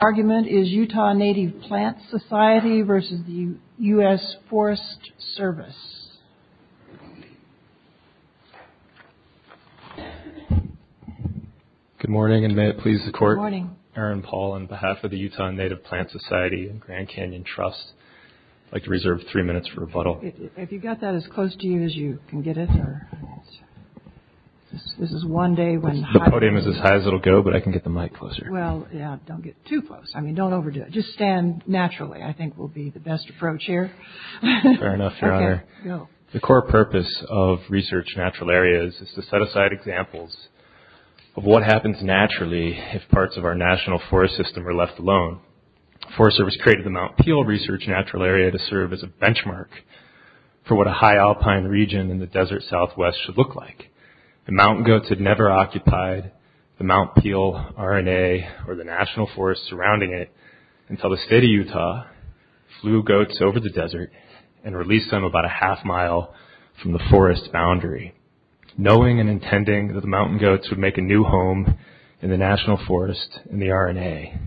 argument is Utah Native Plant Society versus the U.S. Forest Service. Good morning and may it please the court. Erin Paul on behalf of the Utah Native Plant Society and Grand Canyon Trust. I'd like to reserve three minutes for rebuttal. If you've got that as close to you as you can get it. This is one day when the podium is as high as it'll go, but I can get the mic closer. Well, yeah, don't get too close. I mean, don't overdo it. Just stand naturally. I think will be the best approach here. Fair enough, Your Honor. The core purpose of research natural areas is to set aside examples of what happens naturally if parts of our national forest system are left alone. The Forest Service created the Mount Peel Research Natural Area to serve as a benchmark for what a high alpine region in the desert southwest should look like. The mountain goats had never occupied the Mount Peel RNA or the national forest surrounding it until the state of Utah flew goats over the desert and released them about a half mile from the forest boundary, knowing and intending that the mountain goats would make a new home in the national forest and the RNA.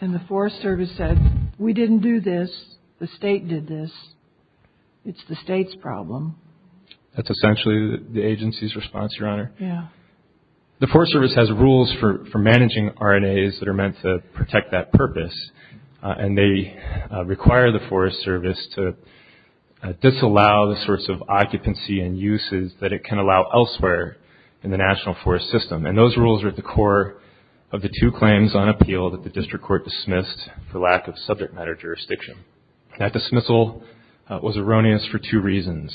And the Forest Service said, we didn't do this. The state did this. It's the state's problem. That's essentially the agency's response, Your Honor. Yeah. The Forest Service has rules for managing RNAs that are meant to protect that purpose, and they require the Forest Service to disallow the sorts of occupancy and uses that it can allow elsewhere in the national forest system. And those rules are at the core of the two claims on appeal that the district court dismissed for lack of subject matter jurisdiction. That dismissal was erroneous for two reasons.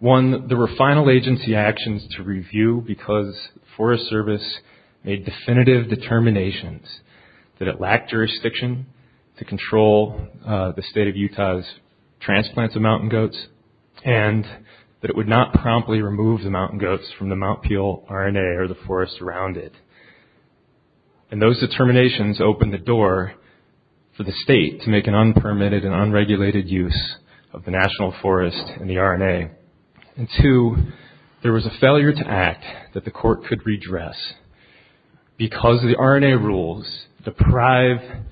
One, there were final agency actions to review because Forest Service made definitive determinations that it lacked jurisdiction to control the state of Utah's transplants of mountain goats and that it would not promptly remove the mountain goats from the Mount Peel RNA or the forest around it. And those determinations opened the door for the state to make an unpermitted and unregulated use of the national forest and the RNA. And two, there was a failure to act that the court could redress because the RNA rules deprive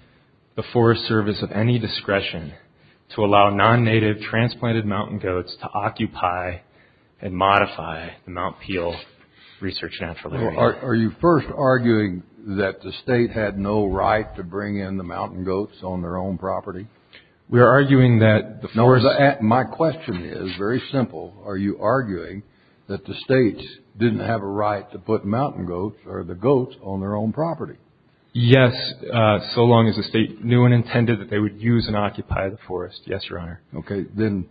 the Forest Service of any discretion to allow non-native transplanted mountain goats to occupy and modify the Mount Peel Research Natural Area. Are you first arguing that the state had no right to bring in the mountain goats on their own property? We are arguing that the forest... No, my question is very simple. Are you arguing that the states didn't have a right to put mountain goats or the goats on their own property? Yes, so long as the state knew and intended that they would use and occupy the forest. Yes, Your Honor. OK, then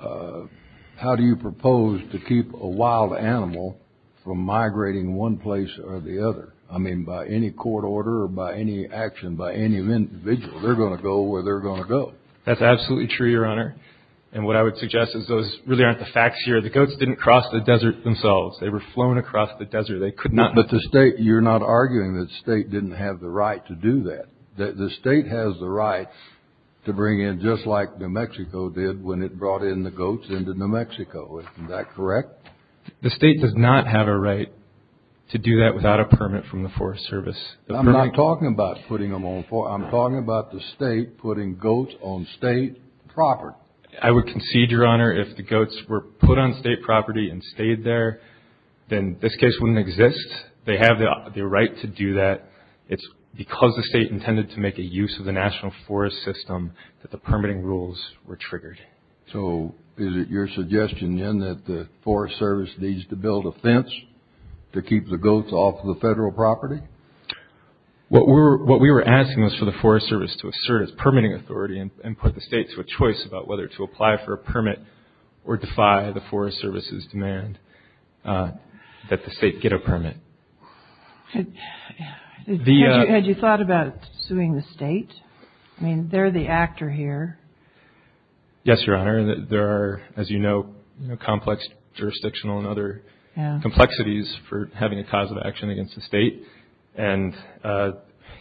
how do you propose to keep a wild animal from migrating one place or the other? I mean, by any court order or by any action by any individual, they're going to go where they're going to go. That's absolutely true, Your Honor. And what I would suggest is those really aren't the facts here. The goats didn't cross the desert themselves. They were flown across the desert. They could not... But the state, you're not arguing that the state didn't have the right to do that. The state has the right to bring in just like New Mexico did when it brought in the goats into New Mexico. Is that correct? The state does not have a right to do that without a permit from the Forest Service. I'm not talking about putting them on... I'm talking about the state putting goats on state property. I would concede, Your Honor, if the goats were put on state property and stayed there, then this case wouldn't exist. They have the right to do that. It's because the state intended to make a use of the national forest system that the permitting rules were triggered. So is it your suggestion, then, that the Forest Service needs to build a fence to keep the goats off of the federal property? What we were asking was for the Forest Service to assert its permitting authority and put the state to a choice about whether to apply for a state? I mean, they're the actor here. Yes, Your Honor. There are, as you know, complex jurisdictional and other complexities for having a cause of action against the state. And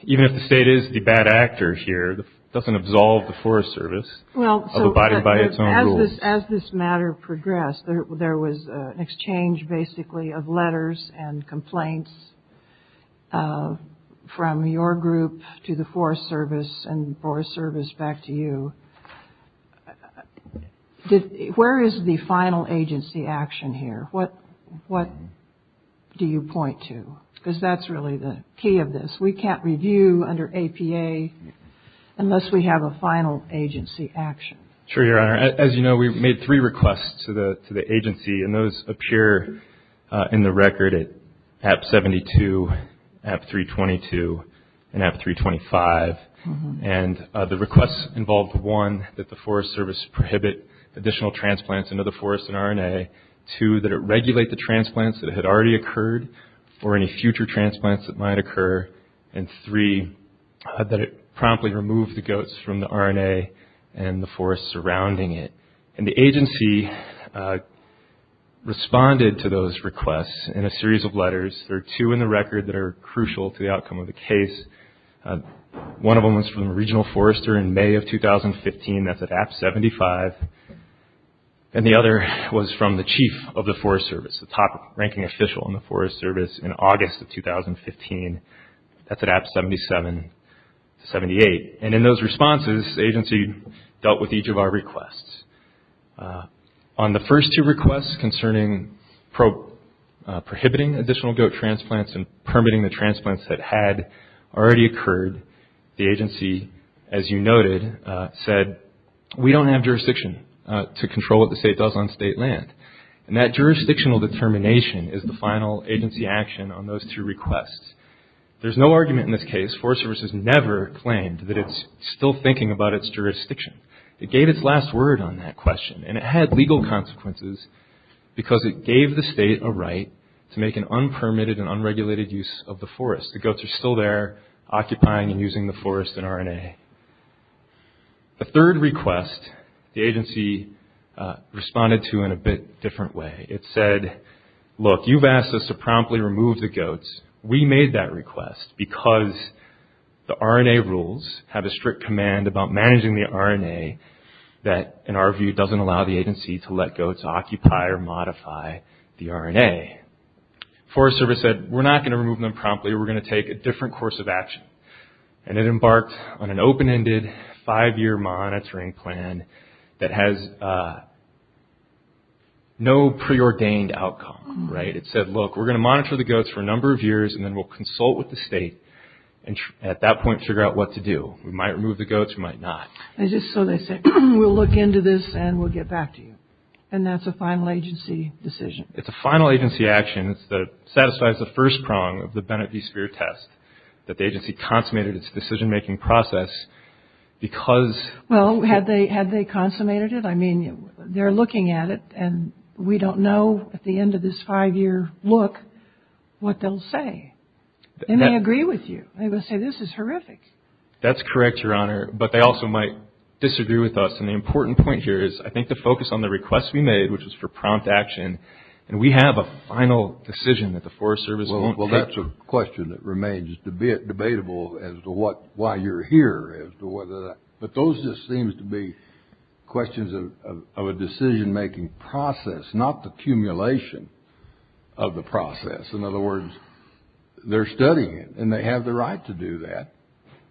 even if the state is the bad actor here, it doesn't absolve the Forest Service of abiding by its own rules. As this matter progressed, there was an exchange, basically, of letters and complaints from your group to the Forest Service and the Forest Service back to you. Where is the final agency action here? What do you point to? Because that's really the key of this. We can't review under APA unless we have a final agency action. Sure, Your Honor. As you know, we made three requests to the agency, and those appear in the record at APA 72, APA 322, and APA 325. And the requests involved, one, that the Forest Service prohibit additional transplants into the forest and RNA, two, that it regulate the transplants that had already occurred or any future transplants that might occur, and three, that it promptly remove the goats from the RNA and the forest surrounding it. And the agency responded to those requests in a series of letters. There are two in the record that are crucial to the outcome of the case. One of them was from a regional forester in May of 2015, that's at AP 75, and the other was from the chief of the Forest Service, the top ranking official in the Forest Service in August of 2015, that's at AP 77 to 78. And in those responses, the agency dealt with each of our requests. On the first two requests, concerning prohibiting additional goat transplants and permitting the transplants that had already occurred, the agency, as you noted, said, we don't have jurisdiction to control what the state does on state land. And that jurisdictional determination is the final agency action on those two requests. There's no argument in this case, Forest Service has never claimed that it's still thinking about its jurisdiction. It gave its last word on that question, and it had legal consequences because it gave the state a right to make an unpermitted and unregulated use of the forest. The goats are still there, occupying and using the forest and RNA. The third request, the agency responded to in a bit different way. It said, look, you've asked us to promptly remove the goats. We made that rules, have a strict command about managing the RNA that, in our view, doesn't allow the agency to let goats occupy or modify the RNA. Forest Service said, we're not going to remove them promptly. We're going to take a different course of action. And it embarked on an open-ended, five-year monitoring plan that has no preordained outcome, right? It said, look, we're going to monitor the goats for a number of years, and then we'll consult with the state, and at that point, figure out what to do. We might remove the goats, we might not. And just so they say, we'll look into this and we'll get back to you. And that's a final agency decision. It's a final agency action that satisfies the first prong of the Bennett v. Speer test, that the agency consummated its decision-making process because... Well, had they consummated it? I mean, they're looking at it, and we don't know, at the end of this five-year look, what they'll say. They may agree with you. They may say, this is horrific. That's correct, Your Honor. But they also might disagree with us. And the important point here is, I think, to focus on the request we made, which was for prompt action, and we have a final decision that the Forest Service won't take. Well, that's a question that remains debatable as to why you're here. But those just seem to be questions of a decision-making process, not the They're studying it, and they have the right to do that.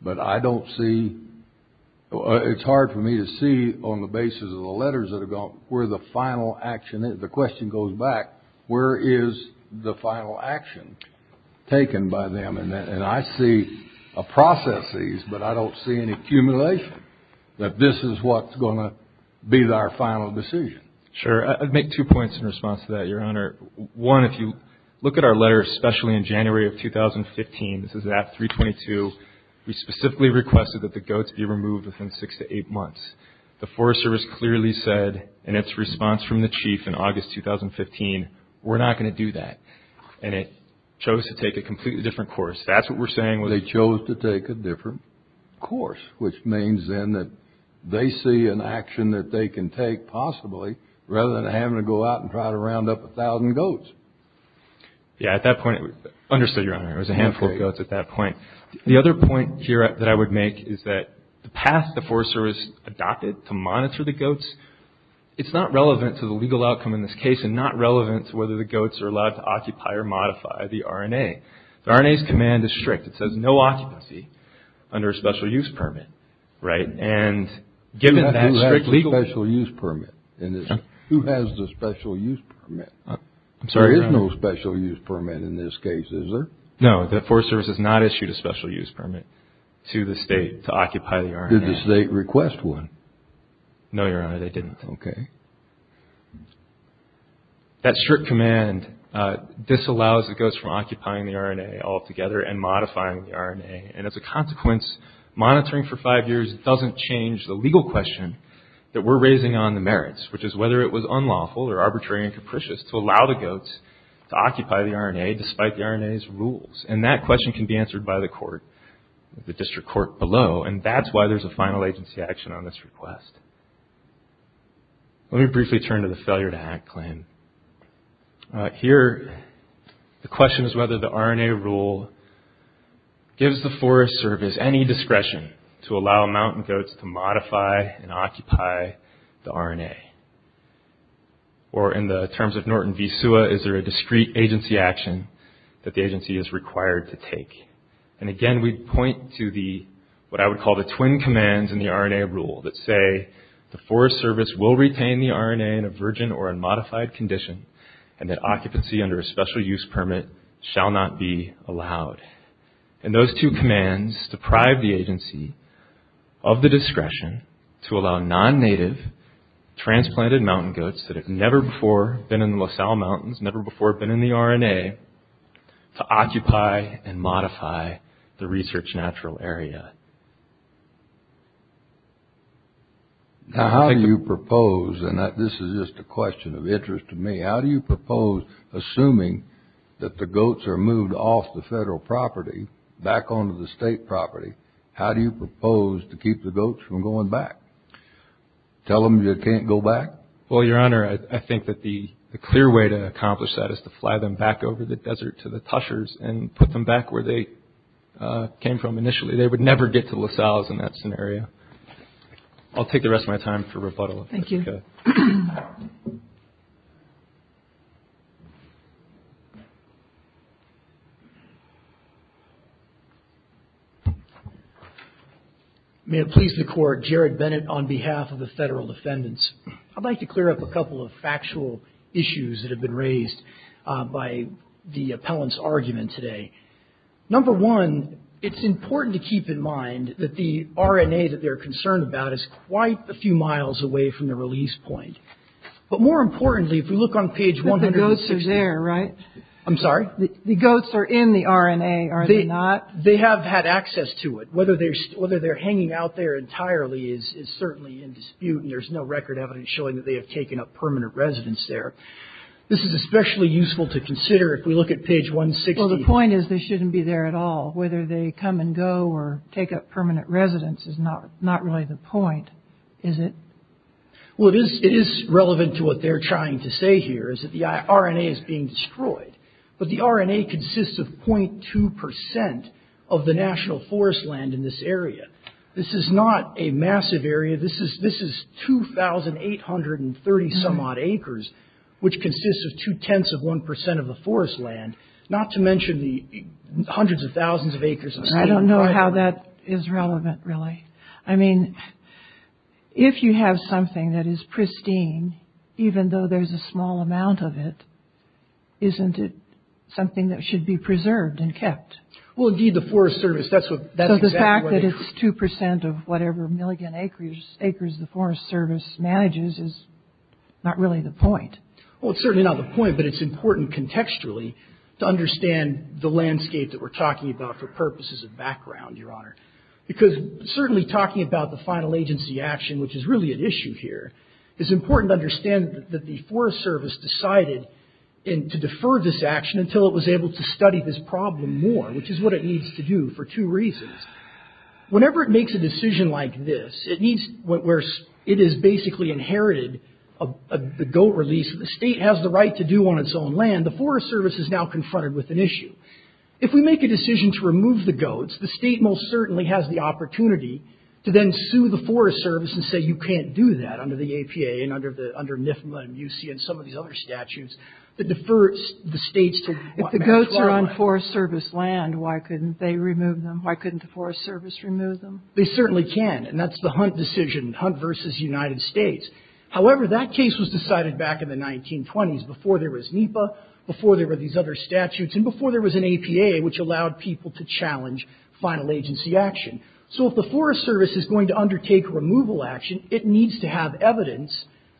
But I don't see... It's hard for me to see, on the basis of the letters that have gone, where the final action is. The question goes back, where is the final action taken by them? And I see processes, but I don't see an accumulation that this is what's going to be our final decision. Sure. I'd make two points in response to that, Your Honor. One, if you look at our letter, especially in January of 2015, this is at 322. We specifically requested that the goats be removed within six to eight months. The Forest Service clearly said, in its response from the Chief in August 2015, we're not going to do that. And it chose to take a completely different course. That's what we're saying. They chose to take a different course, which means, then, that they see an action that they can take, possibly, rather than having to go out and try to round up a thousand goats. Yeah, at that point, understood, Your Honor. It was a handful of goats at that point. The other point here that I would make is that the path the Forest Service adopted to monitor the goats, it's not relevant to the legal outcome in this case, and not relevant to whether the goats are allowed to occupy or modify the RNA. The RNA's command is strict. It says no occupancy under a special use permit. Right, and given that strict legal... Who has the special use permit? I'm sorry, Your Honor. There is no special use permit in this case, is there? No, the Forest Service has not issued a special use permit to the state to occupy the RNA. Did the state request one? No, Your Honor, they didn't. Okay. And as a consequence, monitoring for five years doesn't change the legal question that we're raising on the merits, which is whether it was unlawful or arbitrary and capricious to allow the goats to occupy the RNA, despite the RNA's rules. And that question can be answered by the court, the district court below, and that's why there's a final agency action on this request. Let me briefly turn to the failure to act claim. Here, the question is whether the RNA rule gives the Forest Service any discretion to allow mountain goats to modify and occupy the RNA. Or in the terms of Norton v. Suwa, is there a discrete agency action that the agency is required to take? And again, we point to what I would call the twin commands in the RNA rule that say, the Forest Service will retain the RNA in a virgin or unmodified condition, and that occupancy under a special use permit shall not be allowed. And those two commands deprive the agency of the discretion to allow non-native transplanted mountain goats that have never before been in the La Salle Mountains, never before been in the RNA, to occupy and modify the research natural area. Now, how do you propose, and this is just a question of interest to me, how do you propose, assuming that the goats are moved off the federal property, back onto the state property, how do you propose to keep the goats from going back? Tell them you can't go back? Well, Your Honor, I think that the clear way to accomplish that is to fly them back over the desert to the Tushars and put them back where they came from initially. They would never get to La Salle in that scenario. I'll take the rest of my time for rebuttal. Thank you. May it please the Court, Jared Bennett on behalf of the federal defendants. I'd like to clear up a couple of factual issues that have been raised by the appellant's argument today. Number one, it's important to keep in mind that the RNA that they're concerned about is quite a few miles away from the release point. But more importantly, if we look on page 160. But the goats are there, right? I'm sorry? The goats are in the RNA, are they not? They have had access to it. Whether they're hanging out there entirely is certainly in dispute, and there's no record evidence showing that they have taken up permanent residence there. This is especially useful to consider if we look at page 160. Well, the point is they shouldn't be there at all. Whether they come and go or take up permanent residence is not really the point, is it? Well, it is relevant to what they're trying to say here, is that the RNA is being destroyed. But the RNA consists of 0.2% of the national forest land in this area. This is not a massive area. This is 2,830-some-odd acres, which consists of two-tenths of 1% of the forest land. Not to mention the hundreds of thousands of acres of... I don't know how that is relevant, really. I mean, if you have something that is pristine, even though there's a small amount of it, isn't it something that should be preserved and kept? Well, indeed, the Forest Service, that's what... So the fact that it's 2% of whatever million acres the Forest Service manages is not really the point. Well, it's certainly not the point, but it's important contextually. To understand the landscape that we're talking about for purposes of background, Your Honor. Because certainly talking about the final agency action, which is really at issue here, it's important to understand that the Forest Service decided to defer this action until it was able to study this problem more, which is what it needs to do for two reasons. Whenever it makes a decision like this, where it has basically inherited the GOAT release, the state has the right to do on its own land, the Forest Service is now confronted with an issue. If we make a decision to remove the GOATs, the state most certainly has the opportunity to then sue the Forest Service and say you can't do that under the APA and under NIFMA and UC and some of these other statutes that defers the states to... If the GOATs are on Forest Service land, why couldn't they remove them? Why couldn't the Forest Service remove them? They certainly can, and that's the Hunt decision, Hunt versus United States. However, that case was decided back in the 1920s, before there was NIFA, before there were these other statutes, and before there was an APA, which allowed people to challenge final agency action. So if the Forest Service is going to undertake removal action, it needs to have evidence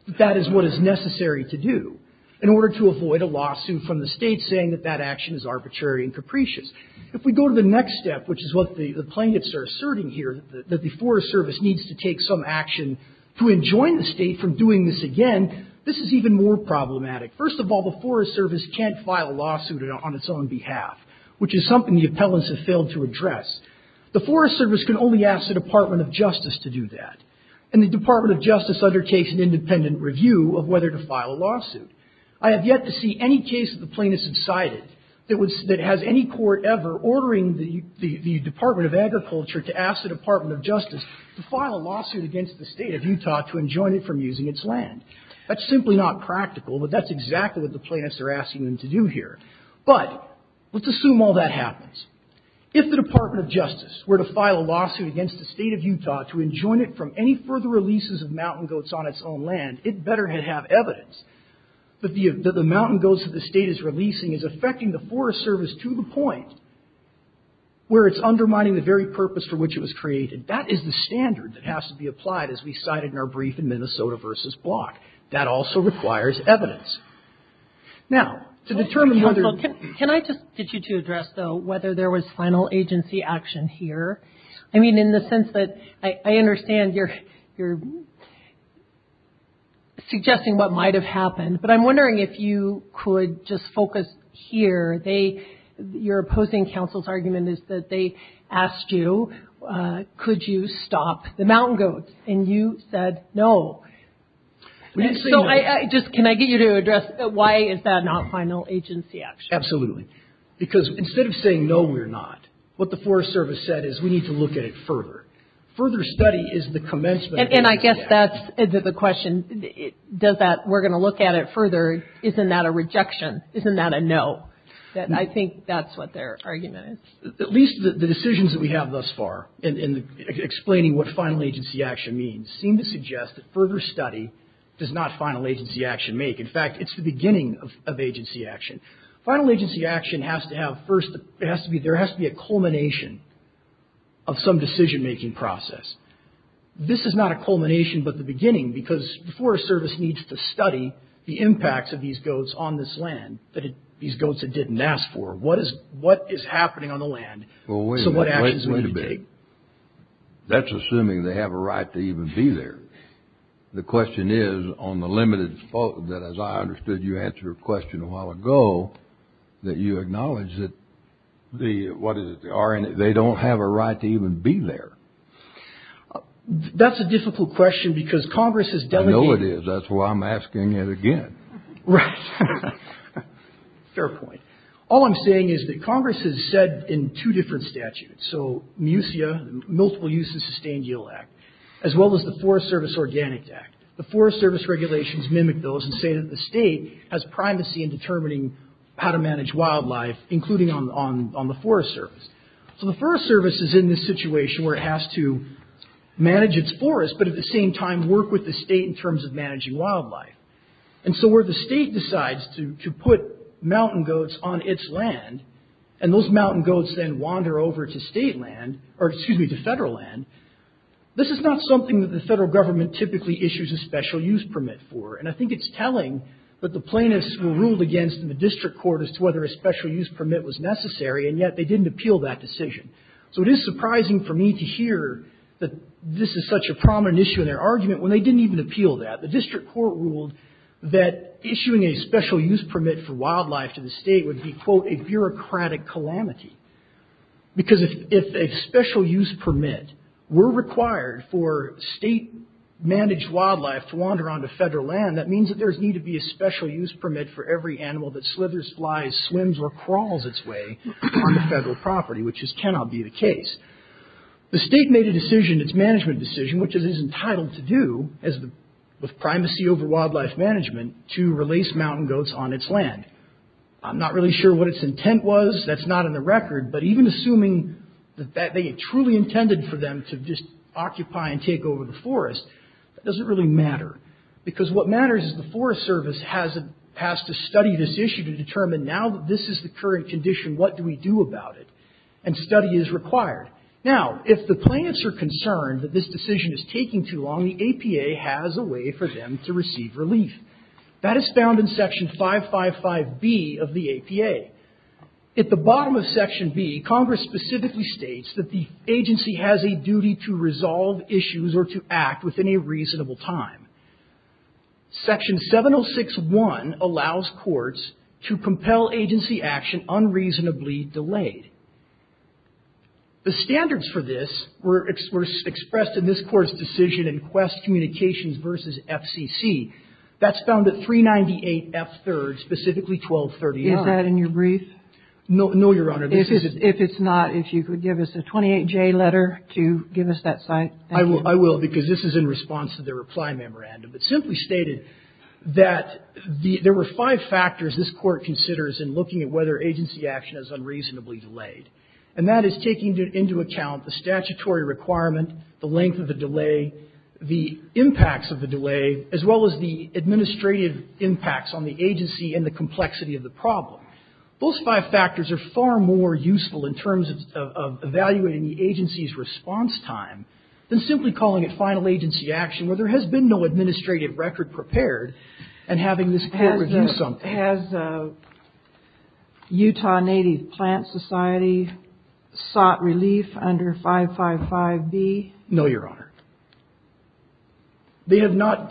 that that is what is necessary to do in order to avoid a lawsuit from the state saying that that action is arbitrary and capricious. If we go to the next step, which is what the plaintiffs are asserting here, that the Forest Service needs to take some action to enjoin the state from doing this again, this is even more problematic. First of all, the Forest Service can't file a lawsuit on its own behalf, which is something the appellants have failed to address. The Forest Service can only ask the Department of Justice to do that, and the Department of Justice undertakes an independent review of whether to file a lawsuit. I have yet to see any case that the plaintiffs have cited that has any court ever ordering the Department of Justice to file a lawsuit against the state of Utah to enjoin it from using its land. That's simply not practical, but that's exactly what the plaintiffs are asking them to do here. But let's assume all that happens. If the Department of Justice were to file a lawsuit against the state of Utah to enjoin it from any further releases of mountain goats on its own land, it better have evidence that the mountain goats that the state is releasing is affecting the Forest Service to the point where it's undermining the very purpose for which it was created. That is the standard that has to be applied as we cited in our brief in Minnesota v. Block. That also requires evidence. Now, to determine whether... Can I just get you to address, though, whether there was final agency action here? I mean, in the sense that I understand you're suggesting what might have happened, but I'm wondering if you could just focus here. You're opposing counsel's argument is that they asked you, could you stop the mountain goats, and you said no. So can I get you to address why is that not final agency action? Absolutely. Because instead of saying no, we're not, what the Forest Service said is we need to look at it further. Further study is the commencement... And I guess that's the question. We're going to look at it further. Isn't that a rejection? Isn't that a no? I think that's what their argument is. At least the decisions that we have thus far in explaining what final agency action means seem to suggest that further study does not final agency action make. In fact, it's the beginning of agency action. Final agency action has to have first... There has to be a culmination of some decision-making process. This is not a culmination, but the beginning, because the Forest Service needs to study the impacts of these goats on this land, these goats it didn't ask for. What is happening on the land? So what actions are you going to take? That's assuming they have a right to even be there. The question is, on the limited fault that, as I understood, you answered a question a while ago, that you acknowledge that they don't have a right to even be there. That's a difficult question because Congress has delegated... I know it is. That's why I'm asking it again. Right. Fair point. All I'm saying is that Congress has said in two different statutes, so MUSEA, Multiple Use and Sustained Yield Act, as well as the Forest Service Organic Act. The Forest Service regulations mimic those and say that the state has primacy in determining how to manage wildlife, including on the Forest Service. So the Forest Service is in this situation where it has to manage its forest, but at the same time work with the state in terms of managing wildlife. And so where the state decides to put mountain goats on its land, and those mountain goats then wander over to state land, or excuse me, to federal land, this is not something that the federal government typically issues a special use permit for. And I think it's telling that the plaintiffs were ruled against in the district court as to whether a special use permit was necessary, and yet they didn't appeal that decision. So it is surprising for me to hear that this is such a prominent issue in their argument when they didn't even appeal that. The district court ruled that issuing a special use permit for wildlife to the state would be, quote, a bureaucratic calamity. Because if a special use permit were required for state-managed wildlife to wander onto federal land, that means that there would need to be a special use permit for every animal that slithers, flies, swims, or crawls its way onto federal property, which just cannot be the case. The state made a decision, its management decision, which it is entitled to do, with primacy over wildlife management, to release mountain goats on its land. I'm not really sure what its intent was, that's not in the record, but even assuming that they truly intended for them to just occupy and take over the forest, that doesn't really matter. Because what matters is the Forest Service has to study this issue to determine now that this is the current condition, what do we do about it? And study is required. Now, if the plaintiffs are concerned that this decision is taking too long, the APA has a way for them to receive relief. That is found in Section 555B of the APA. At the bottom of Section B, Congress specifically states that the agency has a duty to resolve issues or to act within a reasonable time. Section 706.1 allows courts to compel agency action unreasonably delayed. The standards for this were expressed in this court's decision in Quest Communications v. FCC. That's found at 398F3, specifically 1239. Is that in your brief? No, Your Honor. If it's not, if you could give us a 28J letter to give us that sign. I will because this is in response to the reply memorandum. It simply stated that there were five factors this court considers in looking at whether agency action is unreasonably delayed. And that is taking into account the statutory requirement, the length of the delay, the impacts of the delay, as well as the administrative impacts on the agency and the complexity of the problem. Those five factors are far more useful in terms of evaluating the agency's response time than simply calling it final agency action where there has been no administrative record prepared and having this court review something. Has Utah Native Plant Society sought relief under 555B? No, Your Honor. They have not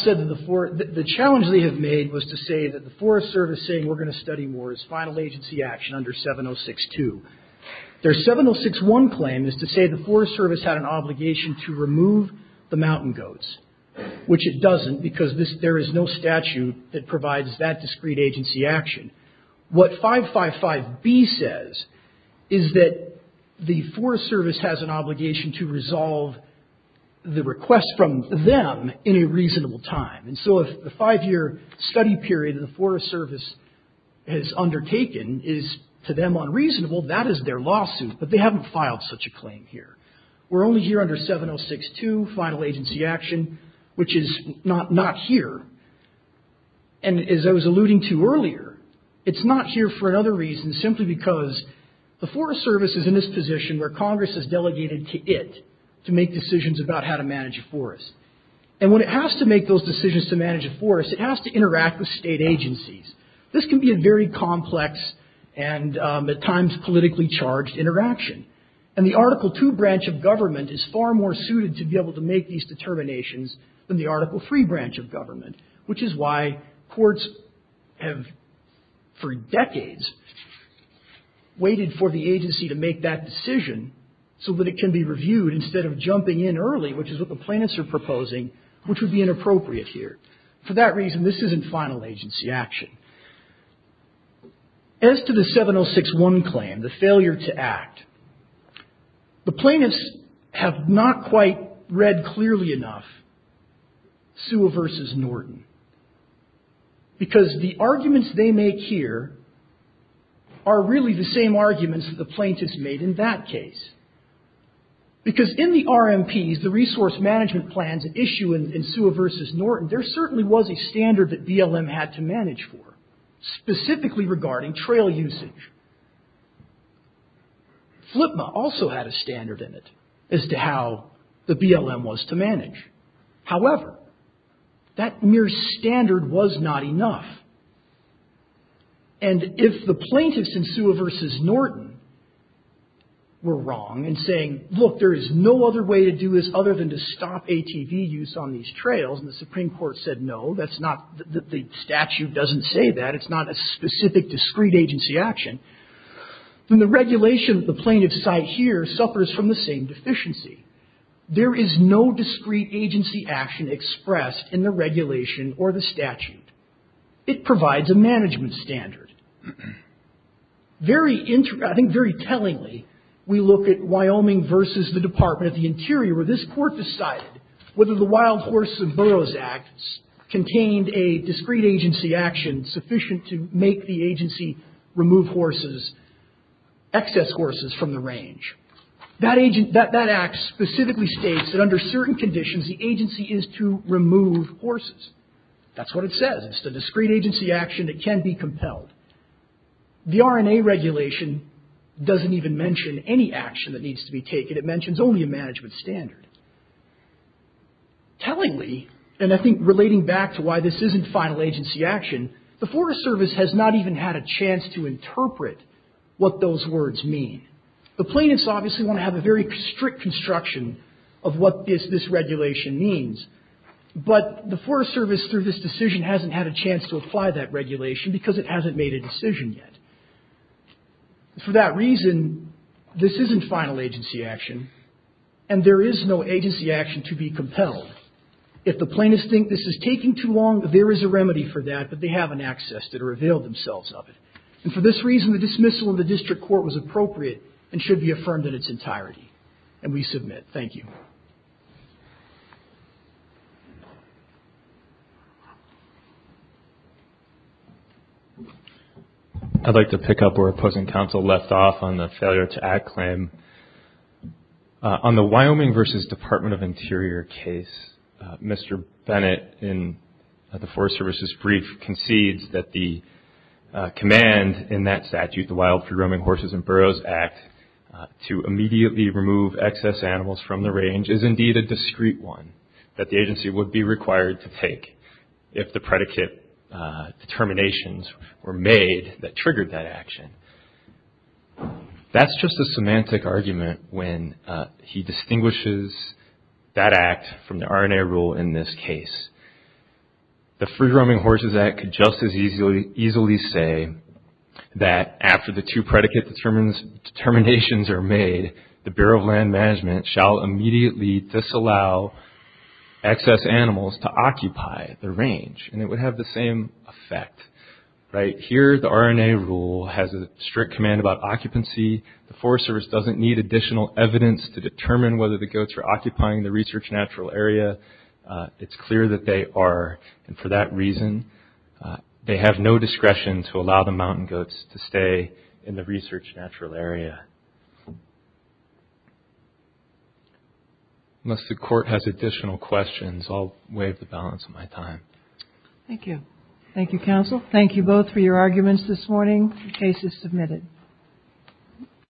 said that the challenge they have made was to say that the Forest Service saying we're going to study more is final agency action under 706.2. Their 706.1 claim is to say the Forest Service had an obligation to remove the mountain goats, which it doesn't because there is no statute that provides that discrete agency action. What 555B says is that the Forest Service has an obligation to resolve the request from them in a reasonable time. And so if the five-year study period that the Forest Service has undertaken is, to them, unreasonable, that is their lawsuit. But they haven't filed such a claim here. We're only here under 706.2, final agency action, which is not here. And as I was alluding to earlier, it's not here for another reason, simply because the Forest Service is in this position where Congress has delegated to it to make decisions about how to manage a forest. And when it has to make those decisions to manage a forest, it has to interact with state agencies. This can be a very complex and at times politically charged interaction. And the Article II branch of government is far more suited to be able to make these determinations than the Article III branch of government, which is why courts have for decades waited for the agency to make that decision so that it can be reviewed instead of jumping in early, which is what the plaintiffs are proposing, which would be inappropriate here. For that reason, this isn't final agency action. As to the 706.1 claim, the failure to act, the plaintiffs have not quite read clearly enough Sewell v. Norton, because the arguments they make here are really the same arguments that the plaintiffs made in that case. Because in the RMPs, the resource management plans at issue in Sewell v. Norton, there certainly was a standard that BLM had to manage for, specifically regarding trail usage. FLPMA also had a standard in it as to how the BLM was to manage. However, that mere standard was not enough. And if the plaintiffs in Sewell v. Norton were wrong in saying, look, there is no other way to do this other than to stop ATV use on these trails, and the Supreme Court said no, the statute doesn't say that, it's not a specific discrete agency action, then the regulation the plaintiffs cite here suffers from the same deficiency. There is no discrete agency action expressed in the regulation or the statute. It provides a management standard. I think very tellingly, we look at Wyoming v. the Department of the Interior, where this court decided whether the Wild Horses and Burros Act contained a discrete agency action sufficient to make the agency remove excess horses from the range. That act specifically states that under certain conditions the agency is to remove horses. That's what it says. It's a discrete agency action that can be compelled. The R&A regulation doesn't even mention any action that needs to be taken. It mentions only a management standard. Tellingly, and I think relating back to why this isn't final agency action, the Forest Service has not even had a chance to interpret what those words mean. The plaintiffs obviously want to have a very strict construction of what this regulation means, but the Forest Service through this decision hasn't had a chance to apply that regulation because it hasn't made a decision yet. For that reason, this isn't final agency action, and there is no agency action to be compelled. If the plaintiffs think this is taking too long, there is a remedy for that, but they haven't accessed it or availed themselves of it. For this reason, the dismissal of the district court was appropriate and should be affirmed in its entirety, and we submit. Thank you. I'd like to pick up where opposing counsel left off on the failure to add claim. On the Wyoming v. Department of Interior case, Mr. Bennett in the Forest Service's brief concedes that the command in that statute, the Wild Free Roaming Horses and Burros Act, to immediately remove excess animals from the range is indeed a discreet one that the agency would be required to take if the predicate determinations were made that triggered that action. That's just a semantic argument when he distinguishes that act from the RNA rule in this case. The Free Roaming Horses Act could just as easily say that after the two predicate determinations are made, the Bureau of Land Management shall immediately disallow excess animals to occupy the range, and it would have the same effect. Here, the RNA rule has a strict command about occupancy. The Forest Service doesn't need additional evidence to determine whether the goats are occupying the research natural area. It's clear that they are, and for that reason, they have no discretion to allow the mountain goats to stay in the research natural area. Unless the court has additional questions, I'll waive the balance of my time. Thank you. Thank you, counsel. Thank you both for your arguments this morning. The case is submitted.